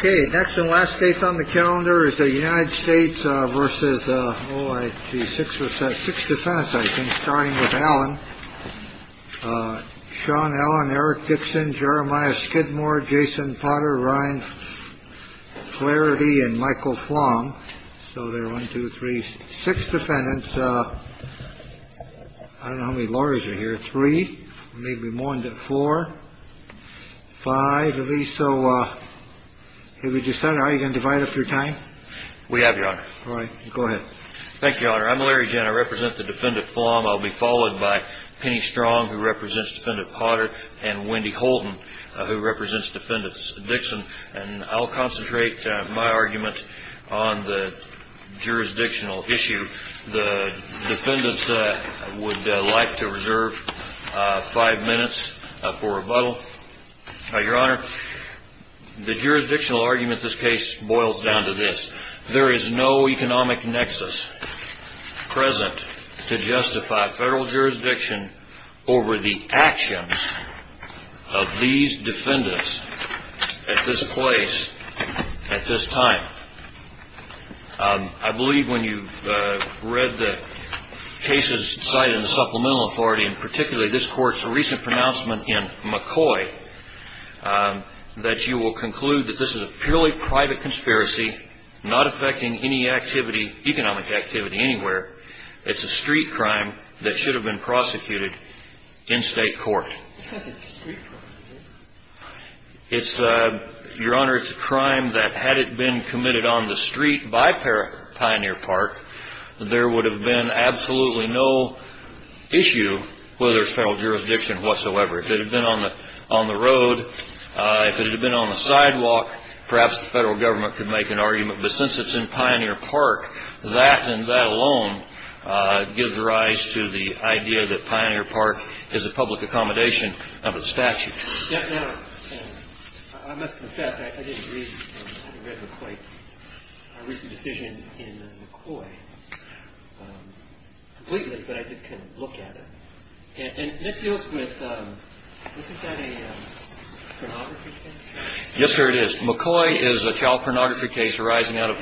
OK, next and last case on the calendar is the United States versus the six or six defense. I think starting with Alan, Sean, Alan, Eric Dixon, Jeremiah Skidmore, Jason Potter, Ryan Clarity and Michael Flong. So there are one, two, three, six defendants. I don't know how many lawyers are here. Three, maybe more than four, five of these. So if we decide I can divide up your time. We have your honor. All right. Go ahead. Thank you, Your Honor. I'm Larry Jenner. I represent the defendant form. I'll be followed by Penny Strong, who represents defendant Potter and Wendy Holden, who represents defendants Dixon. And I'll concentrate my arguments on the jurisdictional issue. The defendants would like to reserve five minutes for rebuttal. Your Honor, the jurisdictional argument this case boils down to this. There is no economic nexus present to justify federal jurisdiction over the actions of these defendants at this place at this time. I believe when you've read the cases cited in the Supplemental Authority, and particularly this court's recent pronouncement in McCoy, that you will conclude that this is a purely private conspiracy, not affecting any activity, economic activity anywhere. It's a street crime that should have been prosecuted in state court. It's not a street crime. It's, Your Honor, it's a crime that had it been committed on the street by Pioneer Park, there would have been absolutely no issue whether it's federal jurisdiction whatsoever. If it had been on the road, if it had been on the sidewalk, perhaps the federal government could make an argument. But since it's in Pioneer Park, that and that alone gives rise to the idea that Pioneer Park is a public accommodation of its statute. Now, I must confess, I didn't read McCoy's decision in McCoy completely, but I did kind of look at it. And that deals with, isn't that a pornography case? Yes, sir, it is. McCoy is a child pornography case arising out of,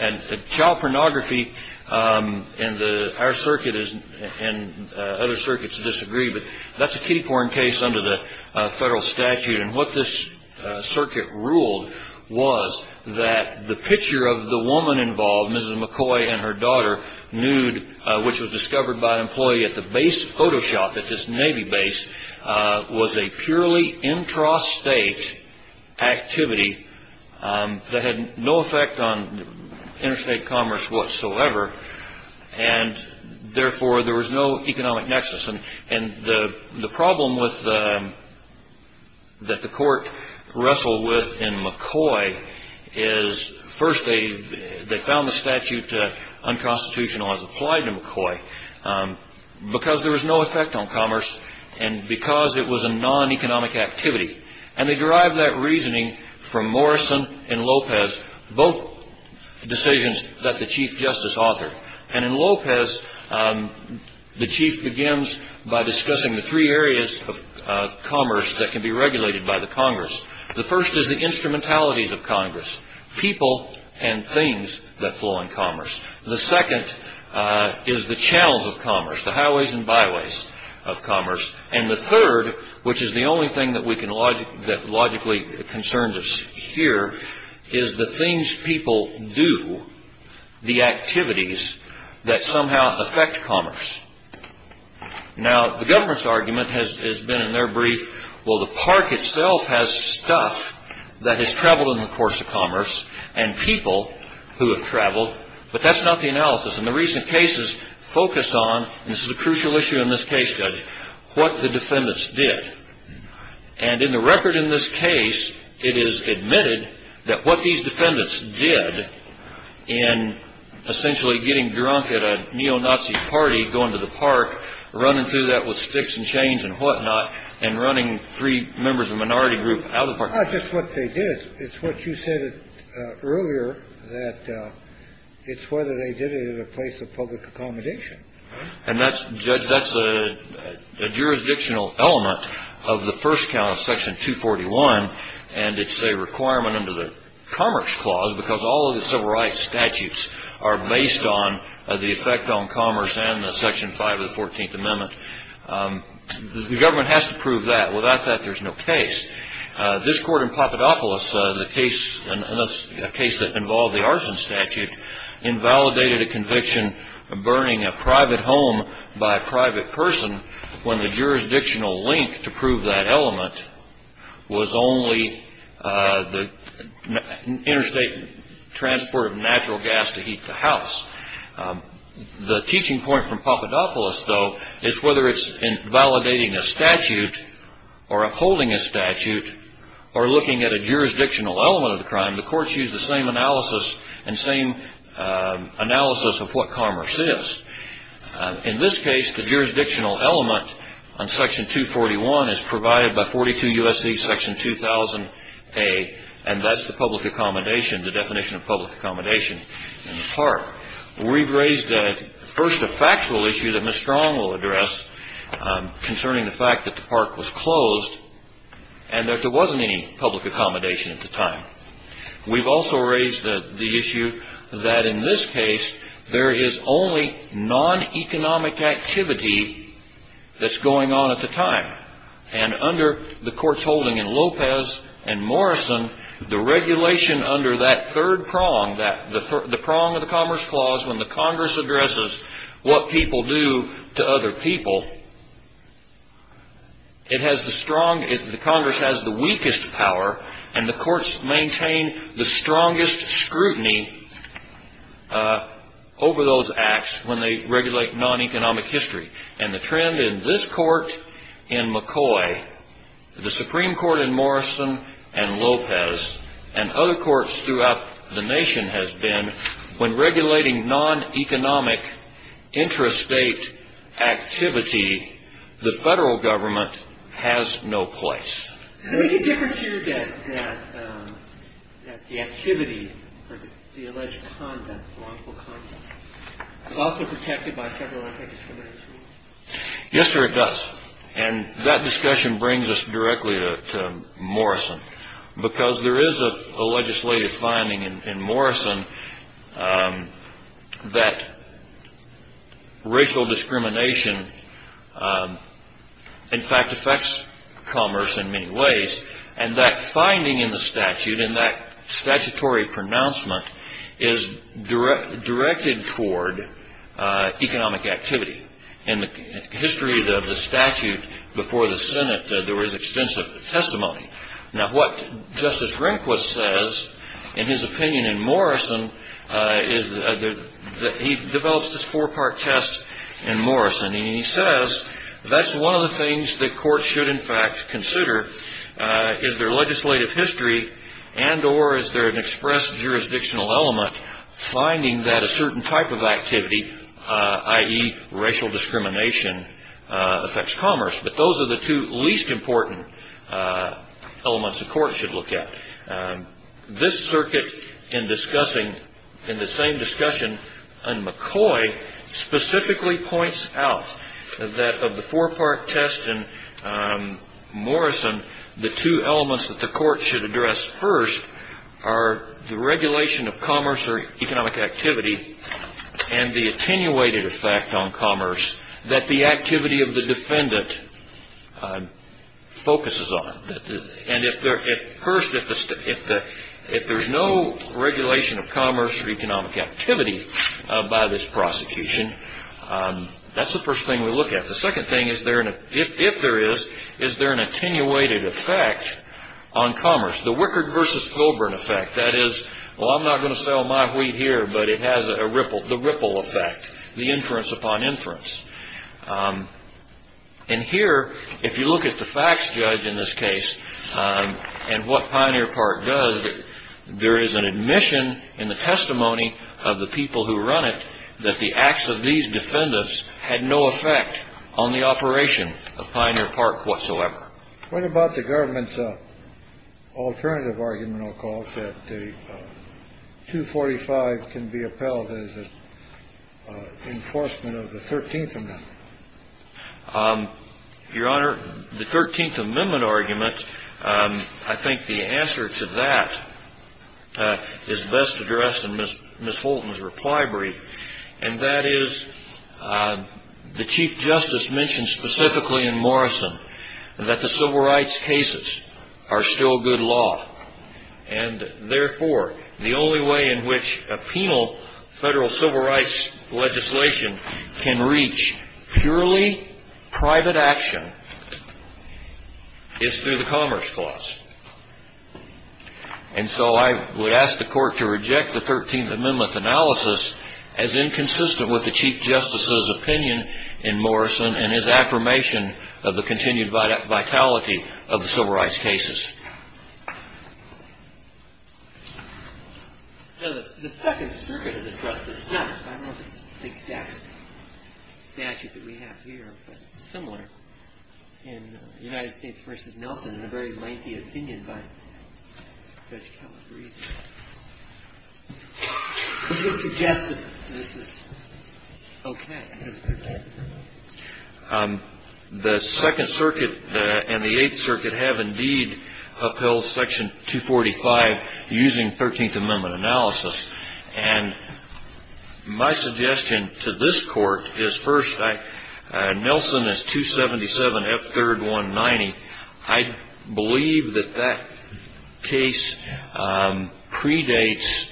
and child pornography in our circuit and other circuits disagree, but that's a kiddie porn case under the federal statute. And what this circuit ruled was that the picture of the woman involved, Mrs. McCoy and her daughter, nude, which was discovered by an employee at the base of Photoshop at this Navy base, was a purely intrastate activity that had no effect on interstate commerce whatsoever. And therefore, there was no economic nexus. And the problem that the court wrestled with in McCoy is, first, they found the statute unconstitutional as applied to McCoy because there was no effect on commerce and because it was a non-economic activity. And they derived that reasoning from Morrison and Lopez, both decisions that the Chief Justice authored. And in Lopez, the Chief begins by discussing the three areas of commerce that can be regulated by the Congress. The first is the instrumentalities of Congress. People and things that flow in commerce. The second is the channels of commerce, the highways and byways of commerce. And the third, which is the only thing that logically concerns us here, is the things people do, the activities that somehow affect commerce. Now, the government's argument has been in their brief, well, the park itself has stuff that has traveled in the course of commerce, and people who have traveled, but that's not the analysis. And the recent cases focus on, and this is a crucial issue in this case, Judge, what the defendants did. And in the record in this case, it is admitted that what these defendants did in essentially getting drunk at a neo-Nazi party, going to the park, running through that with sticks and chains and whatnot, and running three members of a minority group out of the park. Just what they did. It's what you said earlier, that it's whether they did it at a place of public accommodation. And that's, Judge, that's a jurisdictional element of the first count of Section 241. And it's a requirement under the Commerce Clause because all of the civil rights statutes are based on the effect on commerce and the Section 5 of the 14th Amendment. The government has to prove that. Without that, there's no case. This court in Papadopoulos, a case that involved the arson statute, invalidated a conviction of burning a private home by a private person when the jurisdictional link to prove that element was only the interstate transport of natural gas to heat the house. The teaching point from Papadopoulos, though, is whether it's in validating a statute or upholding a statute or looking at a jurisdictional element of the crime, the courts use the same analysis and same analysis of what commerce is. In this case, the jurisdictional element on Section 241 is provided by 42 U.S.C. Section 2000A, and that's the public accommodation, the definition of public accommodation in the park. We've raised first a factual issue that Ms. Strong will address concerning the fact that the park was closed and that there wasn't any public accommodation at the time. We've also raised the issue that in this case, there is only non-economic activity that's going on at the time. And under the court's holding in Lopez and Morrison, the regulation under that third prong, the prong of the Commerce Clause when the Congress addresses what people do to other people, the Congress has the weakest power, and the courts maintain the strongest scrutiny over those acts when they regulate non-economic history. And the trend in this Court in McCoy, the Supreme Court in Morrison and Lopez, and other courts throughout the nation has been when regulating non-economic intrastate activity, the Federal Government has no place. Is there any difference here that the activity or the alleged conduct, wrongful conduct is also protected by federal anti-discrimination law? Yes, sir, it does. And that discussion brings us directly to Morrison, because there is a legislative finding in Morrison that racial discrimination, in fact, affects commerce in many ways. And that finding in the statute, in that statutory pronouncement, is directed toward economic activity. In the history of the statute before the Senate, there was extensive testimony. Now, what Justice Rehnquist says in his opinion in Morrison is that he develops this four-part test in Morrison, and he says that's one of the things that courts should, in fact, consider is their legislative history and or is there an express jurisdictional element finding that a certain type of activity, i.e. racial discrimination, affects commerce. But those are the two least important elements the court should look at. This circuit in discussing, in the same discussion on McCoy, specifically points out that of the four-part test in Morrison, the two elements that the court should address first are the regulation of commerce or economic activity and the attenuated effect on commerce that the activity of the defendant focuses on. And if there's no regulation of commerce or economic activity by this prosecution, that's the first thing we look at. The second thing, if there is, is there an attenuated effect on commerce, the Wickard versus Colburn effect, that is, well, I'm not going to sell my wheat here, but it has the ripple effect, the inference upon inference. And here, if you look at the facts judge in this case and what Pioneer Park does, there is an admission in the testimony of the people who run it that the acts of these defendants had no effect on the operation of Pioneer Park whatsoever. What about the government's alternative argument, I'll call it, that 245 can be upheld as an enforcement of the 13th Amendment? Your Honor, the 13th Amendment argument, I think the answer to that is best addressed in Ms. Fulton's reply brief. And that is, the Chief Justice mentioned specifically in Morrison that the civil rights cases are still good law. And therefore, the only way in which a penal federal civil rights legislation can reach purely private action is through the Commerce Clause. And so I would ask the Court to reject the 13th Amendment analysis as inconsistent with the Chief Justice's opinion in Morrison and his affirmation of the continued vitality of the civil rights cases. The Second Circuit has addressed this, not by the exact statute that we have here, but similar in United States v. Nelson in a very lengthy opinion by Judge Calabrese. The Second Circuit and the Eighth Circuit have indeed upheld Section 245 using 13th Amendment analysis. And my suggestion to this Court is, first, Nelson is 277 F. 3rd 190. I believe that that case predates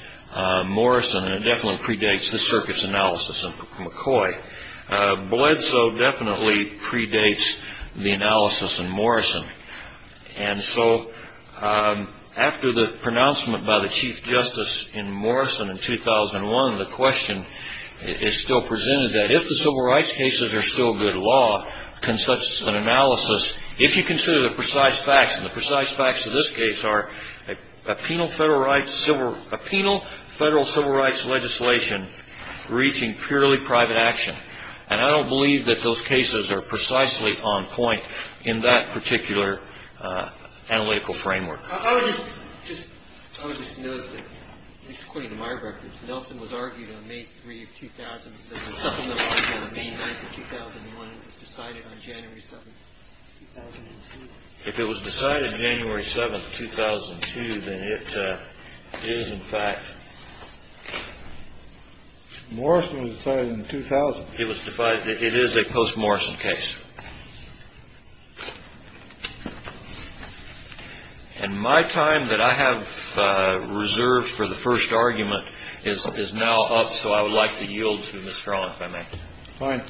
Morrison, and it definitely predates the Circuit's analysis of McCoy. Bledsoe definitely predates the analysis in Morrison. And so after the pronouncement by the Chief Justice in Morrison in 2001, the question is still presented that if the civil rights cases are still good law, can such an analysis, if you consider the precise facts, and the precise facts of this case are a penal federal civil rights legislation reaching purely private action. And I don't believe that those cases are precisely on point in that particular analytical framework. I would just note that, at least according to my records, Nelson was argued on May 3, 2000. There was a supplemental argument on May 9, 2001. It was decided on January 7, 2002. If it was decided January 7, 2002, then it is, in fact... Morrison was decided in 2000. It was decided. It is a post-Morrison case. And my time that I have reserved for the first argument is now up, so I would like to yield to Ms. Strong, if I may. Fine.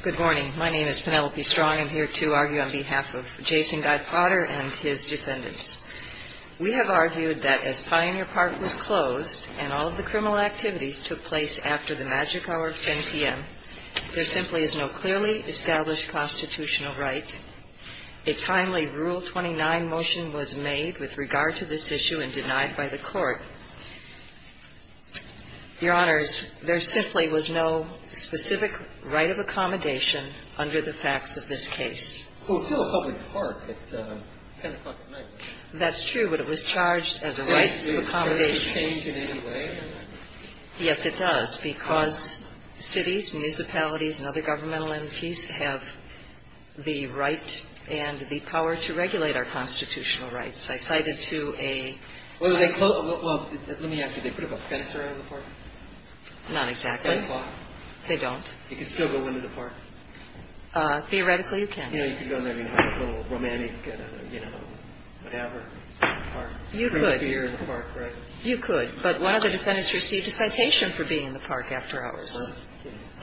Good morning. My name is Penelope Strong. I'm here to argue on behalf of Jason Guy Potter and his defendants. We have argued that as Pioneer Park was closed and all of the criminal activities took place after the magic hour of 10 p.m., there simply is no clearly established constitutional right. A timely Rule 29 motion was made with regard to this issue and denied by the Court. Your Honors, there simply was no specific right of accommodation under the facts of this case. Well, it's still a public park at 10 o'clock at night. That's true, but it was charged as a right of accommodation. Does it change in any way? Yes, it does, because cities, municipalities and other governmental entities have the right and the power to regulate our constitutional rights. I cited to a... Well, let me ask you, do they put up a fence around the park? Not exactly. At 10 o'clock? They don't. You can still go into the park? Theoretically, you can. You know, you can go in there and have a little romantic, you know, whatever, park. You could. You could, but one of the defendants received a citation for being in the park after hours.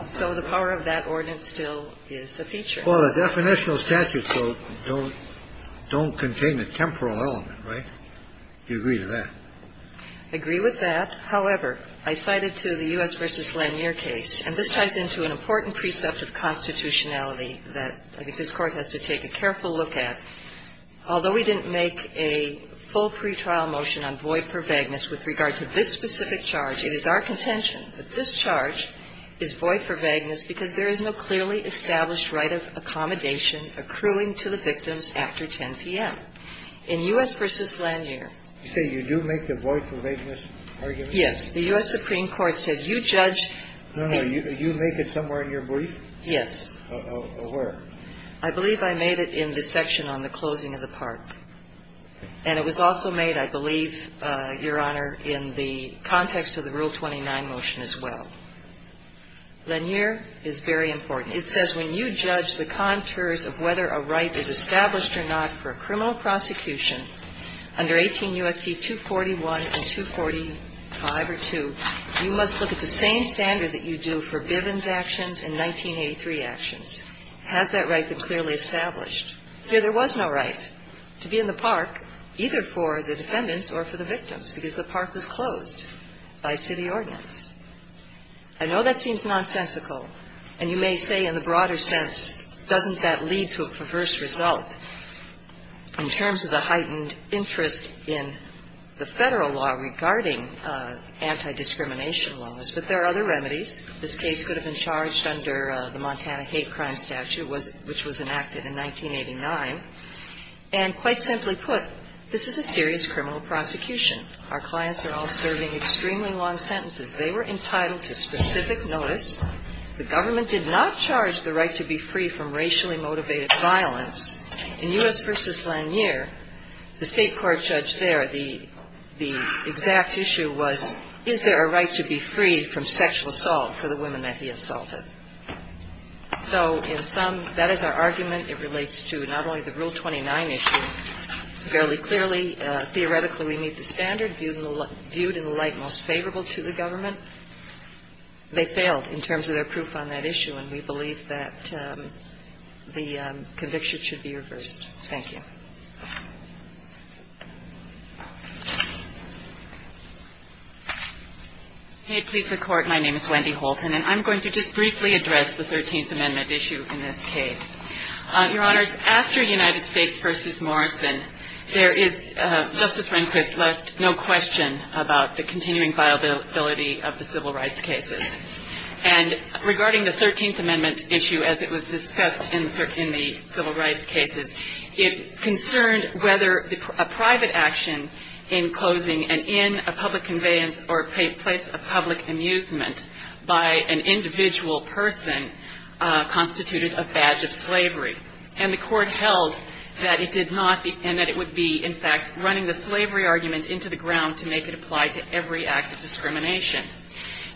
So the power of that ordinance still is a feature. Well, the definitional statutes, though, don't contain a temporal element, right? Do you agree with that? I agree with that. However, I cited to the U.S. v. Lanier case, and this ties into an important precept of constitutionality that I think this Court has to take a careful look at. Although we didn't make a full pretrial motion on Voight v. Vagnas with regard to this specific charge, it is our contention that this charge is Voight v. Vagnas because there is no clearly established right of accommodation accruing to the victims after 10 p.m. In U.S. v. Lanier. You say you do make the Voight v. Vagnas argument? Yes. The U.S. Supreme Court said, you judge. No, no. You make it somewhere in your brief? Yes. Where? I believe I made it in the section on the closing of the park. And it was also made, I believe, Your Honor, in the context of the Rule 29 motion as well. Lanier is very important. It says, when you judge the contours of whether a right is established or not for a criminal prosecution under 18 U.S.C. 241 and 245 or 2, you must look at the same standard that you do for Bivens actions and 1983 actions. Has that right been clearly established? Here there was no right to be in the park, either for the defendants or for the victims, because the park was closed by city ordinance. I know that seems nonsensical, and you may say in the broader sense, doesn't that lead to a perverse result? In terms of the heightened interest in the Federal law regarding anti-discrimination laws, but there are other remedies. This case could have been charged under the Montana Hate Crime Statute, which was enacted in 1989. And quite simply put, this is a serious criminal prosecution. Our clients are all serving extremely long sentences. They were entitled to specific notice. The government did not charge the right to be free from racially motivated violence. In U.S. v. Lanier, the State court judge there, the exact issue was, is there a right to be free from sexual assault for the women that he assaulted? So in some, that is our argument. It relates to not only the Rule 29 issue. Fairly clearly, theoretically, we meet the standard viewed in the light most favorable to the government. They failed in terms of their proof on that issue. And we believe that the conviction should be reversed. Thank you. MS. HOLTON. May it please the Court, my name is Wendy Holton, and I'm going to just briefly address the Thirteenth Amendment issue in this case. Your Honors, after United States v. Morrison, there is, Justice Rehnquist left no question about the continuing viability of the civil rights cases. And regarding the Thirteenth Amendment issue, as it was discussed in the civil rights cases, it concerned whether a private action in closing and in a public conveyance or place of public amusement by an individual person constituted a badge of slavery. And the Court held that it did not, and that it would be, in fact, running the slavery argument into the ground to make it apply to every act of discrimination.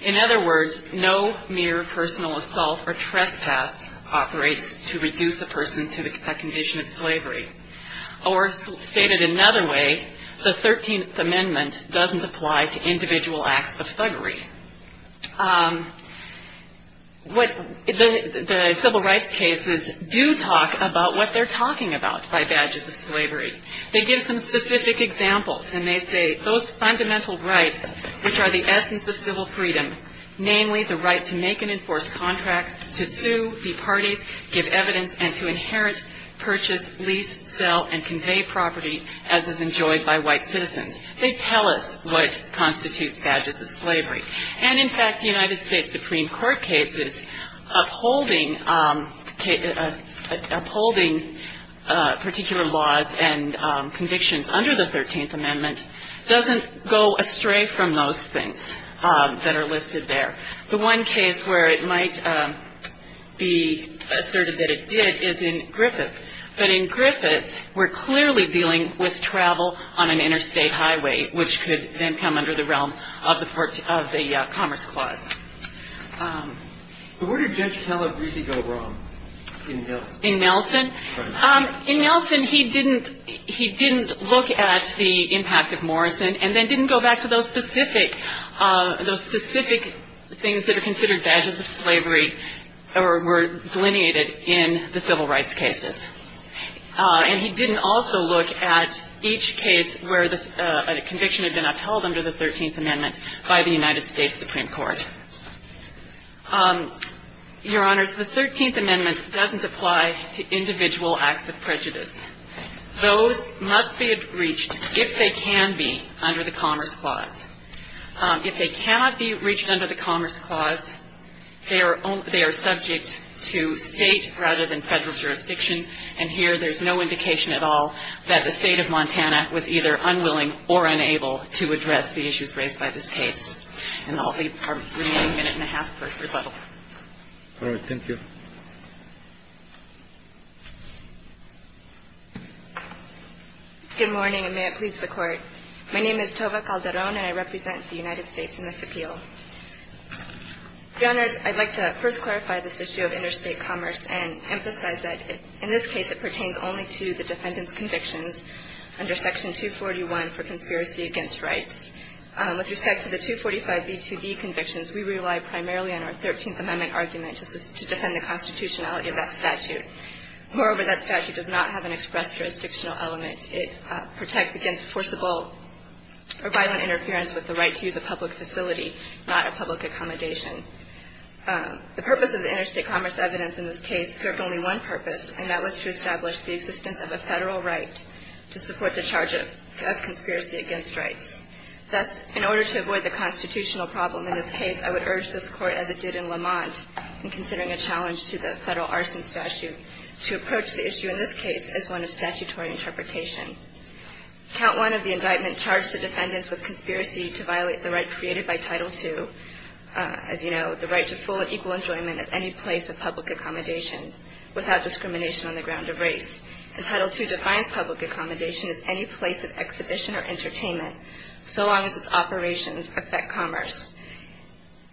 In other words, no mere personal assault or trespass operates to reduce a person to a condition of slavery. Or stated another way, the Thirteenth Amendment doesn't apply to individual acts of thuggery. What the civil rights cases do talk about what they're talking about by badges of slavery. They give some specific examples, and they say those fundamental rights, which are the right of civil freedom, namely the right to make and enforce contracts, to sue, departee, give evidence, and to inherit, purchase, lease, sell, and convey property as is enjoyed by white citizens. They tell us what constitutes badges of slavery. And in fact, the United States Supreme Court cases upholding particular laws and convictions under the Thirteenth Amendment doesn't go astray from those things that are listed there. The one case where it might be asserted that it did is in Griffith, but in Griffith, we're clearly dealing with travel on an interstate highway, which could then come under the realm of the Commerce Clause. So where did Judge Calabresi go wrong in Milton? In Milton, he didn't look at the impact of Morrison and then didn't go back to those specific things that are considered badges of slavery or were delineated in the civil rights cases. And he didn't also look at each case where the conviction had been upheld under the Thirteenth Amendment by the United States Supreme Court. Your Honors, the Thirteenth Amendment doesn't apply to individual acts of prejudice. Those must be reached if they can be under the Commerce Clause. If they cannot be reached under the Commerce Clause, they are subject to State rather than Federal jurisdiction, and here there's no indication at all that the State of Montana was either unwilling or unable to address the issues raised by this case. And I'll leave our remaining minute and a half for rebuttal. All right. Thank you. Good morning, and may it please the Court. My name is Tova Calderon, and I represent the United States in this appeal. Your Honors, I'd like to first clarify this issue of interstate commerce and emphasize that in this case it pertains only to the defendant's convictions under Section 241 for conspiracy against rights. With respect to the 245B2B convictions, we rely primarily on our Thirteenth Amendment argument to defend the constitutionality of that statute. Moreover, that statute does not have an express jurisdictional element. It protects against forcible or violent interference with the right to use a public facility, not a public accommodation. The purpose of the interstate commerce evidence in this case served only one purpose, and that was to establish the existence of a Federal right to support the charge of conspiracy against rights. Thus, in order to avoid the constitutional problem in this case, I would urge this Court, as it did in Lamont in considering a challenge to the Federal arson statute, to approach the issue in this case as one of statutory interpretation. Count 1 of the indictment charged the defendants with conspiracy to violate the right created by Title II, as you know, the right to full and equal enjoyment at any place of public accommodation without discrimination on the ground of race. And Title II defines public accommodation as any place of exhibition or entertainment so long as its operations affect commerce.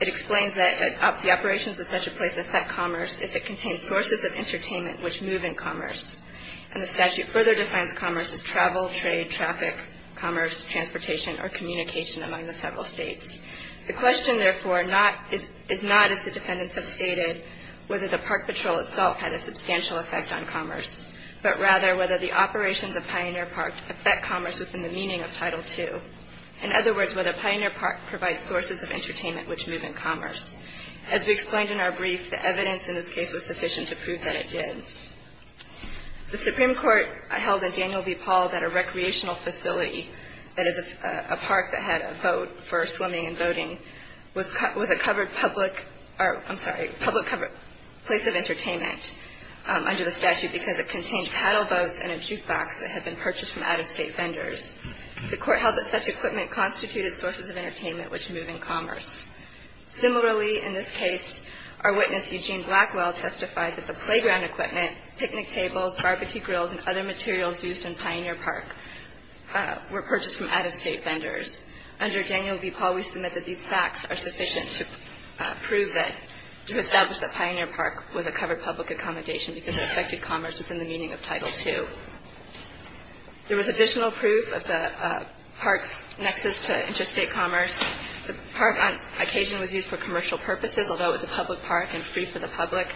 It explains that the operations of such a place affect commerce if it contains sources of entertainment which move in commerce. And the statute further defines commerce as travel, trade, traffic, commerce, transportation, or communication among the several States. The question, therefore, is not, as the defendants have stated, whether the park patrol itself had a substantial effect on commerce, but rather whether the operations of Pioneer Park affect commerce within the meaning of Title II. In other words, whether Pioneer Park provides sources of entertainment which move in commerce. As we explained in our brief, the evidence in this case was sufficient to prove that it did. The Supreme Court held in Daniel v. Paul that a recreational facility, that is, a park that had a vote for swimming and voting, was a covered public or, I'm sorry, public covered place of entertainment under the statute because it contained paddle boats and a jukebox that had been purchased from out-of-state vendors. The Court held that such equipment constituted sources of entertainment which move in commerce. Similarly, in this case, our witness, Eugene Blackwell, testified that the playground equipment, picnic tables, barbecue grills, and other materials used in Pioneer Park were purchased from out-of-state vendors. Under Daniel v. Paul, we submit that these facts are sufficient to prove that, to establish that Pioneer Park was a covered public accommodation because it affected commerce within the meaning of Title II. There was additional proof of the park's nexus to interstate commerce. The park, on occasion, was used for commercial purposes, although it was a public park and free for the public.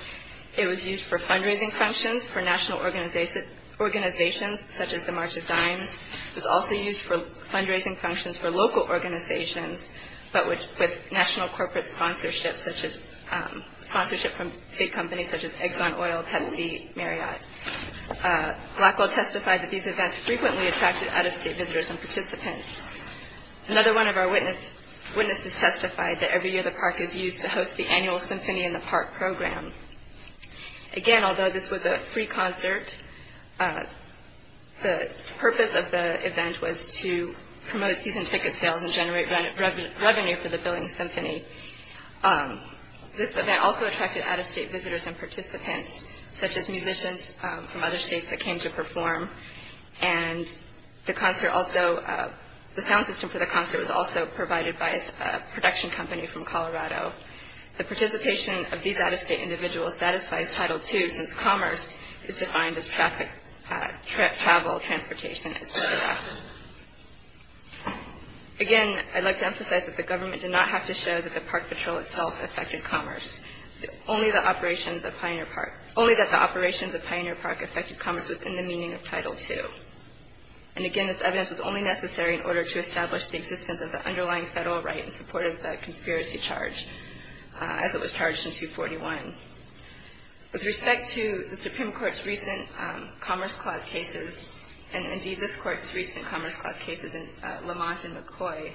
It was used for fundraising functions for national organizations, such as the March of Dimes. It was also used for fundraising functions for local organizations, but with national corporate sponsorship, such as sponsorship from big companies such as Exxon Oil, Pepsi, Marriott. Blackwell testified that these events frequently attracted out-of-state visitors and participants. Another one of our witnesses testified that every year the park is used to host the annual Symphony in the Park program. Again, although this was a free concert, the purpose of the event was to promote season ticket sales and generate revenue for the Billings Symphony. This event also attracted out-of-state visitors and participants, such as musicians from other states that came to perform, and the sound system for the concert was also provided by a production company from Colorado. The participation of these out-of-state individuals satisfies Title II, since commerce is defined as travel, transportation, etc. Again, I'd like to emphasize that the government did not have to show that the park patrol itself affected commerce. Only that the operations of Pioneer Park affected commerce within the meaning of Title II. And again, this evidence was only necessary in order to establish the existence of the as it was charged in 241. With respect to the Supreme Court's recent Commerce Clause cases, and, indeed, this Court's recent Commerce Clause cases in Lamont and McCoy,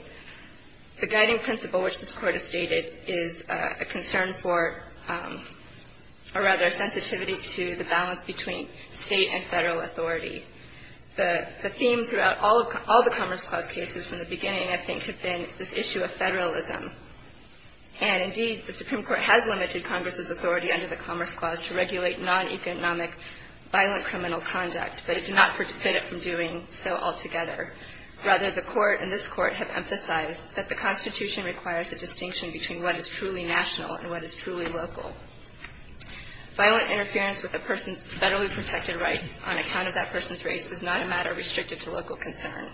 the guiding principle which this Court has stated is a concern for, or rather a sensitivity to the balance between State and Federal authority. The theme throughout all of the Commerce Clause cases from the beginning, I think, has been this issue of Federalism. And, indeed, the Supreme Court has limited Congress's authority under the Commerce Clause to regulate non-economic violent criminal conduct, but it did not forbid it from doing so altogether. Rather, the Court and this Court have emphasized that the Constitution requires a distinction between what is truly national and what is truly local. Violent interference with a person's federally protected rights on account of that person's race is not a matter restricted to local concern.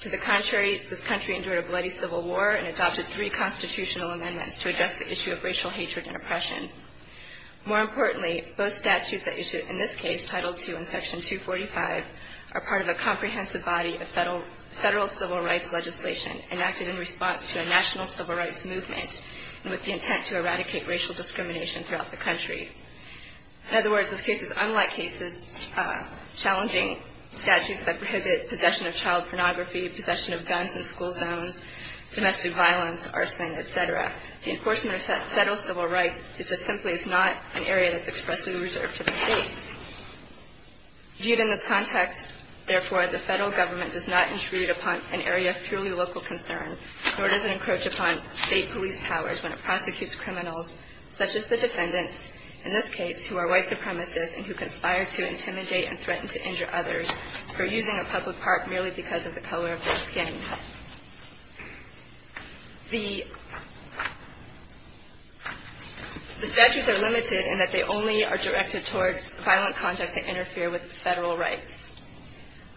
To the contrary, this country endured a bloody civil war and adopted three constitutional amendments to address the issue of racial hatred and oppression. More importantly, both statutes that issue in this case, Title II and Section 245, are part of a comprehensive body of Federal civil rights legislation enacted in response to a national civil rights movement and with the intent to eradicate racial discrimination throughout the country. In other words, this case is unlike cases challenging statutes that prohibit possession of child pornography, possession of guns in school zones, domestic violence, arson, et cetera. The enforcement of Federal civil rights is just simply not an area that's expressly reserved to the states. Viewed in this context, therefore, the Federal Government does not intrude upon an area of truly local concern, nor does it encroach upon state police powers when it prosecutes criminals such as the defendants, in this case, who are white supremacists and who conspire to intimidate and threaten to injure others for using a public park merely because of the color of their skin. The statutes are limited in that they only are directed towards violent conduct that interfere with Federal rights.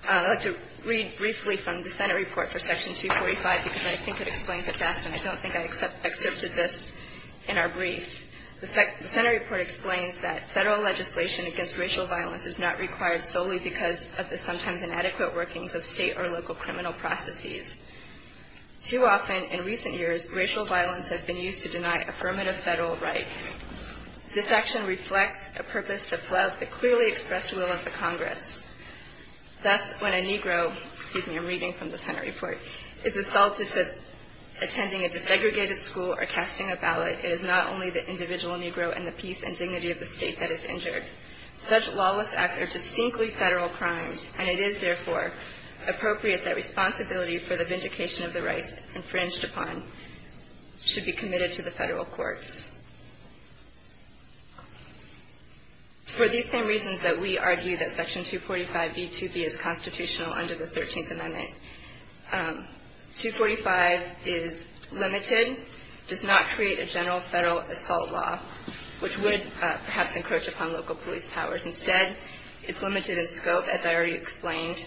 I'd like to read briefly from the Senate report for Section 245, because I think it explains it best, and I don't think I excerpted this in our brief. The Senate report explains that Federal legislation against racial violence is not required solely because of the sometimes inadequate workings of state or local criminal processes. Too often, in recent years, racial violence has been used to deny affirmative Federal rights. This action reflects a purpose to flout the clearly expressed will of the Congress. Thus, when a Negro, excuse me, I'm reading from the Senate report, is assaulted for or casting a ballot, it is not only the individual Negro and the peace and dignity of the state that is injured. Such lawless acts are distinctly Federal crimes, and it is, therefore, appropriate that responsibility for the vindication of the rights infringed upon should be committed to the Federal courts. It's for these same reasons that we argue that Section 245b2b is constitutional under the Thirteenth Amendment. 245 is limited, does not create a general Federal assault law, which would perhaps encroach upon local police powers. Instead, it's limited in scope, as I already explained,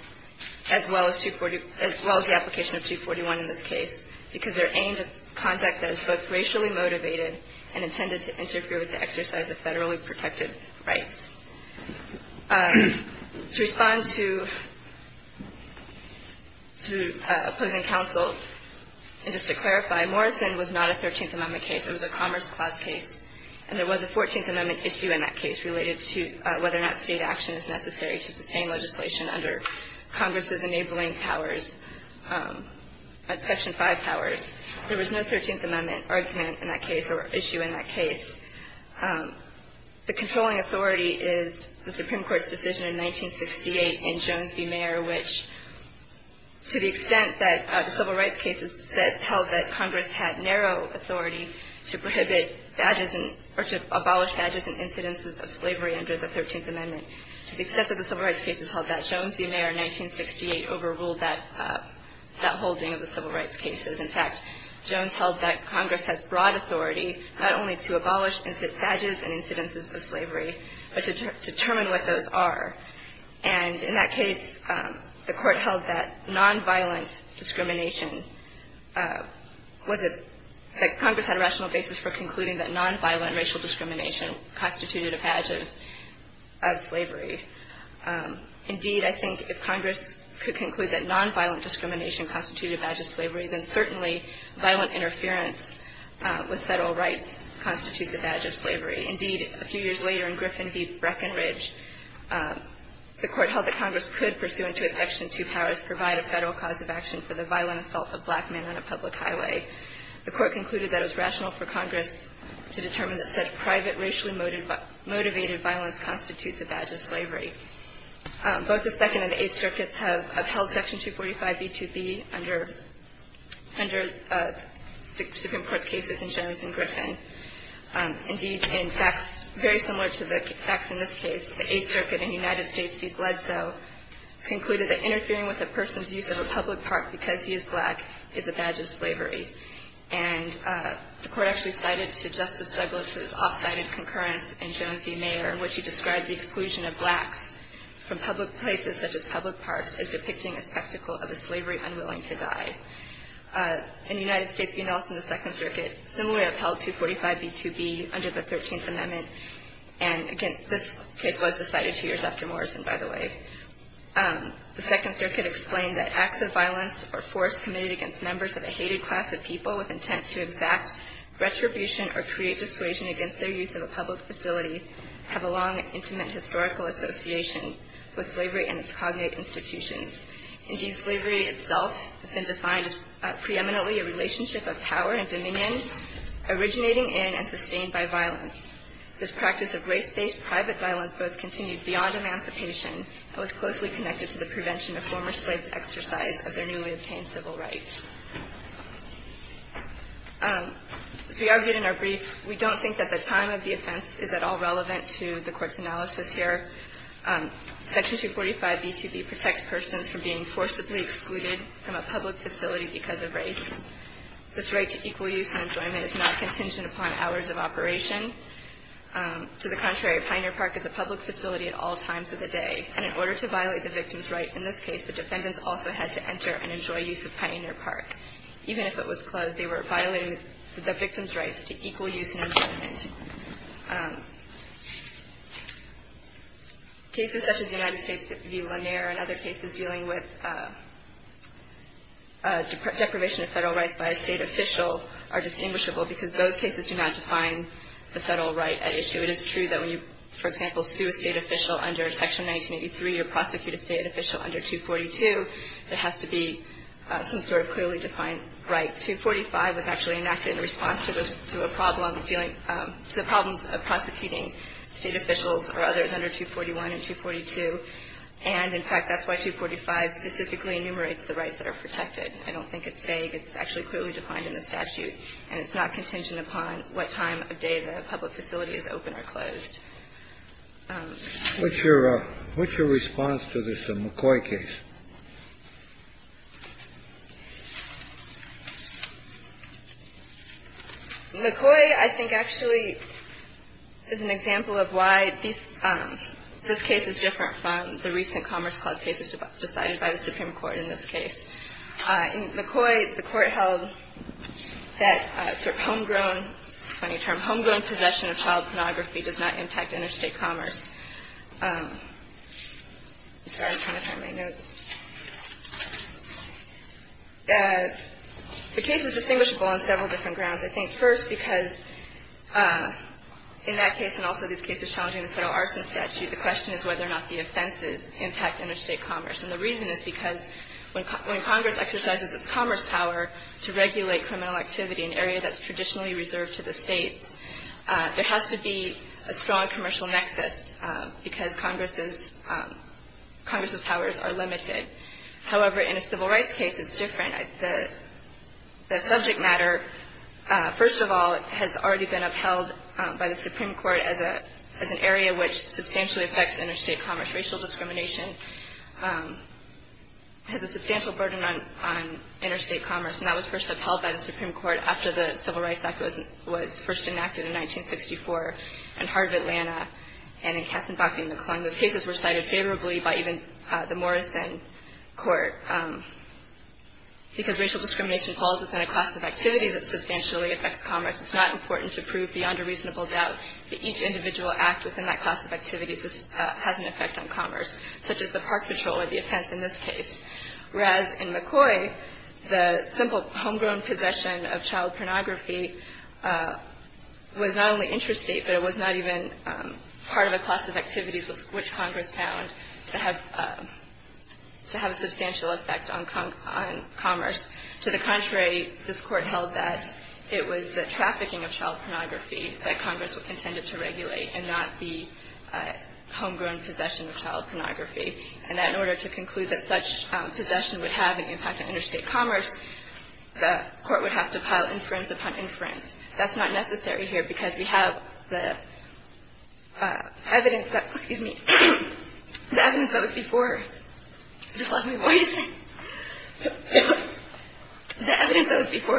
as well as the application of 241 in this case, because they're aimed at conduct that is both racially motivated and intended to interfere with the exercise of Federally protected rights. To respond to opposing counsel, and just to clarify, Morrison was not a Thirteenth Amendment case. It was a Commerce Clause case, and there was a Fourteenth Amendment issue in that case related to whether or not state action is necessary to sustain legislation under Congress's enabling powers, Section 5 powers. There was no Thirteenth Amendment argument in that case or issue in that case. The controlling authority is the Supreme Court's decision in 1968 in Jones v. Mayer, which, to the extent that the civil rights cases held that Congress had narrow authority to prohibit badges or to abolish badges in incidents of slavery under the Thirteenth Amendment, to the extent that the civil rights cases held that, Jones v. Mayer in 1968 overruled that holding of the civil rights cases. In fact, Jones held that Congress has broad authority not only to abolish badges in incidents of slavery, but to determine what those are. And in that case, the Court held that nonviolent discrimination was a – that Congress had a rational basis for concluding that nonviolent racial discrimination constituted a badge of slavery. Indeed, I think if Congress could conclude that nonviolent discrimination constituted a badge of slavery, then certainly violent interference with Federal rights constitutes a badge of slavery. Indeed, a few years later in Griffin v. Breckinridge, the Court held that Congress could, pursuant to its Section 2 powers, provide a Federal cause of action for the violent assault of black men on a public highway. The Court concluded that it was rational for Congress to determine that such private racially motivated violence constitutes a badge of slavery. Both the Second and the Eighth Circuits have upheld Section 245b2b under the Supreme Court's cases in Jones and Griffin. Indeed, in facts very similar to the facts in this case, the Eighth Circuit in the United States v. Bledsoe concluded that interfering with a person's use of a public park because he is black is a badge of slavery. And the Court actually cited to Justice Douglas' off-sided concurrence in Jones v. Mayer in which he described the exclusion of blacks from public places such as public parks as depicting a spectacle of a slavery unwilling to die. In the United States v. Nelson, the Second Circuit similarly upheld 245b2b under the Thirteenth Amendment. And, again, this case was decided two years after Morrison, by the way. The Second Circuit explained that acts of violence or force committed against members of a hated class of people with intent to exact retribution or create dissuasion against their use of a public facility have a long, intimate historical association with slavery and its cognate institutions. Indeed, slavery itself has been defined as preeminently a relationship of power and dominion originating in and sustained by violence. This practice of race-based private violence both continued beyond emancipation and was closely connected to the prevention of former slaves' exercise of their newly obtained civil rights. As we argued in our brief, we don't think that the time of the offense is at all relevant to the Court's analysis here. Section 245b2b protects persons from being forcibly excluded from a public facility because of race. This right to equal use and enjoyment is not contingent upon hours of operation. To the contrary, a pioneer park is a public facility at all times of the day. And in order to violate the victim's right in this case, the defendants also had to enter and enjoy use of pioneer parks. Even if it was closed, they were violating the victim's rights to equal use and enjoyment. Cases such as the United States v. Lanier and other cases dealing with deprivation of Federal rights by a State official are distinguishable because those cases do not define the Federal right at issue. It is true that when you, for example, sue a State official under Section 1983 or prosecute a State official under 242, there has to be some sort of clearly defined right. 245 was actually enacted in response to a problem dealing to the problems of prosecuting State officials or others under 241 and 242. And, in fact, that's why 245 specifically enumerates the rights that are protected. I don't think it's vague. It's actually clearly defined in the statute. And it's not contingent upon what time of day the public facility is open or closed. What's your response to this McCoy case? McCoy, I think, actually is an example of why this case is different from the recent Commerce Clause cases decided by the Supreme Court in this case. In McCoy, the Court held that sort of homegrown, funny term, homegrown possession of child pornography does not impact interstate commerce. I'm sorry. I'm trying to find my notes. The case is distinguishable on several different grounds. I think, first, because in that case and also these cases challenging the federal arson statute, the question is whether or not the offenses impact interstate commerce. And the reason is because when Congress exercises its commerce power to regulate criminal activity in an area that's traditionally reserved to the states, there has to be a strong commercial nexus because Congress's powers are limited. However, in a civil rights case, it's different. The subject matter, first of all, has already been upheld by the Supreme Court as an area which substantially affects interstate commerce. Racial discrimination has a substantial burden on interstate commerce. And that was first upheld by the Supreme Court after the Civil Rights Act was first enacted in 1964 in Heart of Atlanta and in Katzenbach v. McClung. Those cases were cited favorably by even the Morrison Court. Because racial discrimination falls within a class of activities that substantially affects commerce, it's not important to prove beyond a reasonable doubt that each individual act within that class of activities has an effect on commerce, such as the park patrol or the offense in this case. Whereas in McCoy, the simple homegrown possession of child pornography was not only interstate, but it was not even part of a class of activities which Congress found to have a substantial effect on commerce. To the contrary, this Court held that it was the trafficking of child pornography that Congress intended to regulate and not the homegrown possession of child pornography. And that in order to conclude that such possession would have an impact on interstate commerce, the Court would have to pile inference upon inference. That's not necessary here because we have the evidence that was before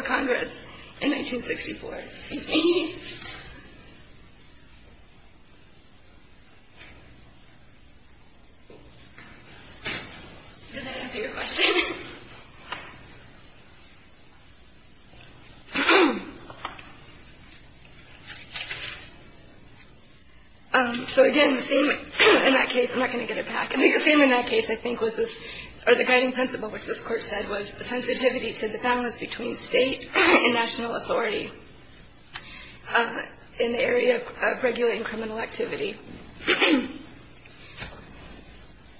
Congress in 1964. Excuse me. Did that answer your question? So, again, the same in that case. I'm not going to get it back. I think the same in that case, I think, was this or the guiding principle, which this between state and national authority in the area of regulating criminal activity.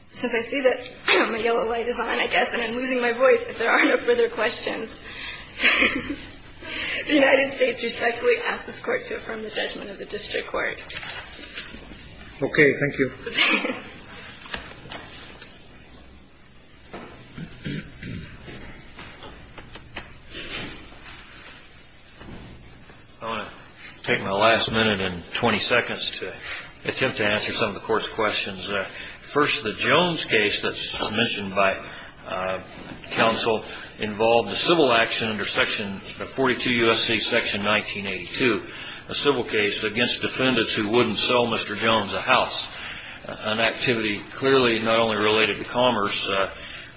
Since I see that my yellow light is on, I guess, and I'm losing my voice, if there are no further questions. The United States respectfully asks this Court to affirm the judgment of the district court. Okay. Thank you. I want to take my last minute and 20 seconds to attempt to answer some of the Court's questions. First, the Jones case that's mentioned by counsel involved the civil action under section 42 U.S.C. section 1982, a civil case against defendants who wouldn't sell Mr. Jones a house, an activity clearly not only related to commerce,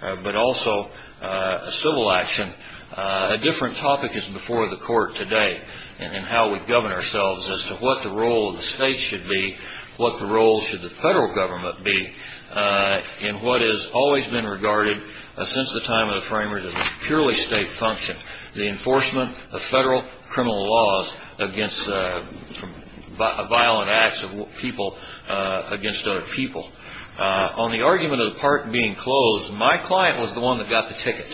but also a civil action. A different topic is before the Court today in how we govern ourselves as to what the role of the state should be, what the role should the federal government be, in what has always been regarded since the time of the framers as a purely state function, the enforcement of federal criminal laws against violent acts of people against other people. On the argument of the park being closed, my client was the one that got the ticket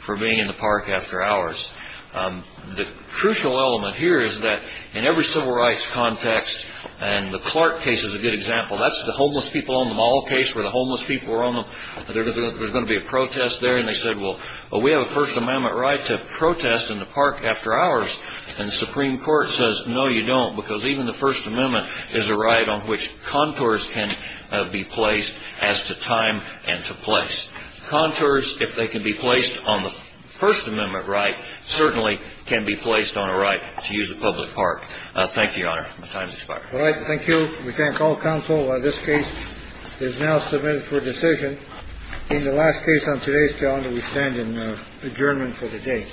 for being in the park after hours. The crucial element here is that in every civil rights context, and the Clark case is a good example, that's the homeless people on the mall case where the homeless people were on them, there's going to be a protest there, and they said, well, we have a First Amendment right to protest in the park after hours. And the Supreme Court says, no, you don't, because even the First Amendment is a right on which contours can be placed as to time and to place. Contours, if they can be placed on the First Amendment right, certainly can be placed on a right to use a public park. Thank you, Your Honor. My time is expired. All right. Thank you. We thank all counsel. This case is now submitted for decision in the last case on today's calendar. We stand in adjournment for the day.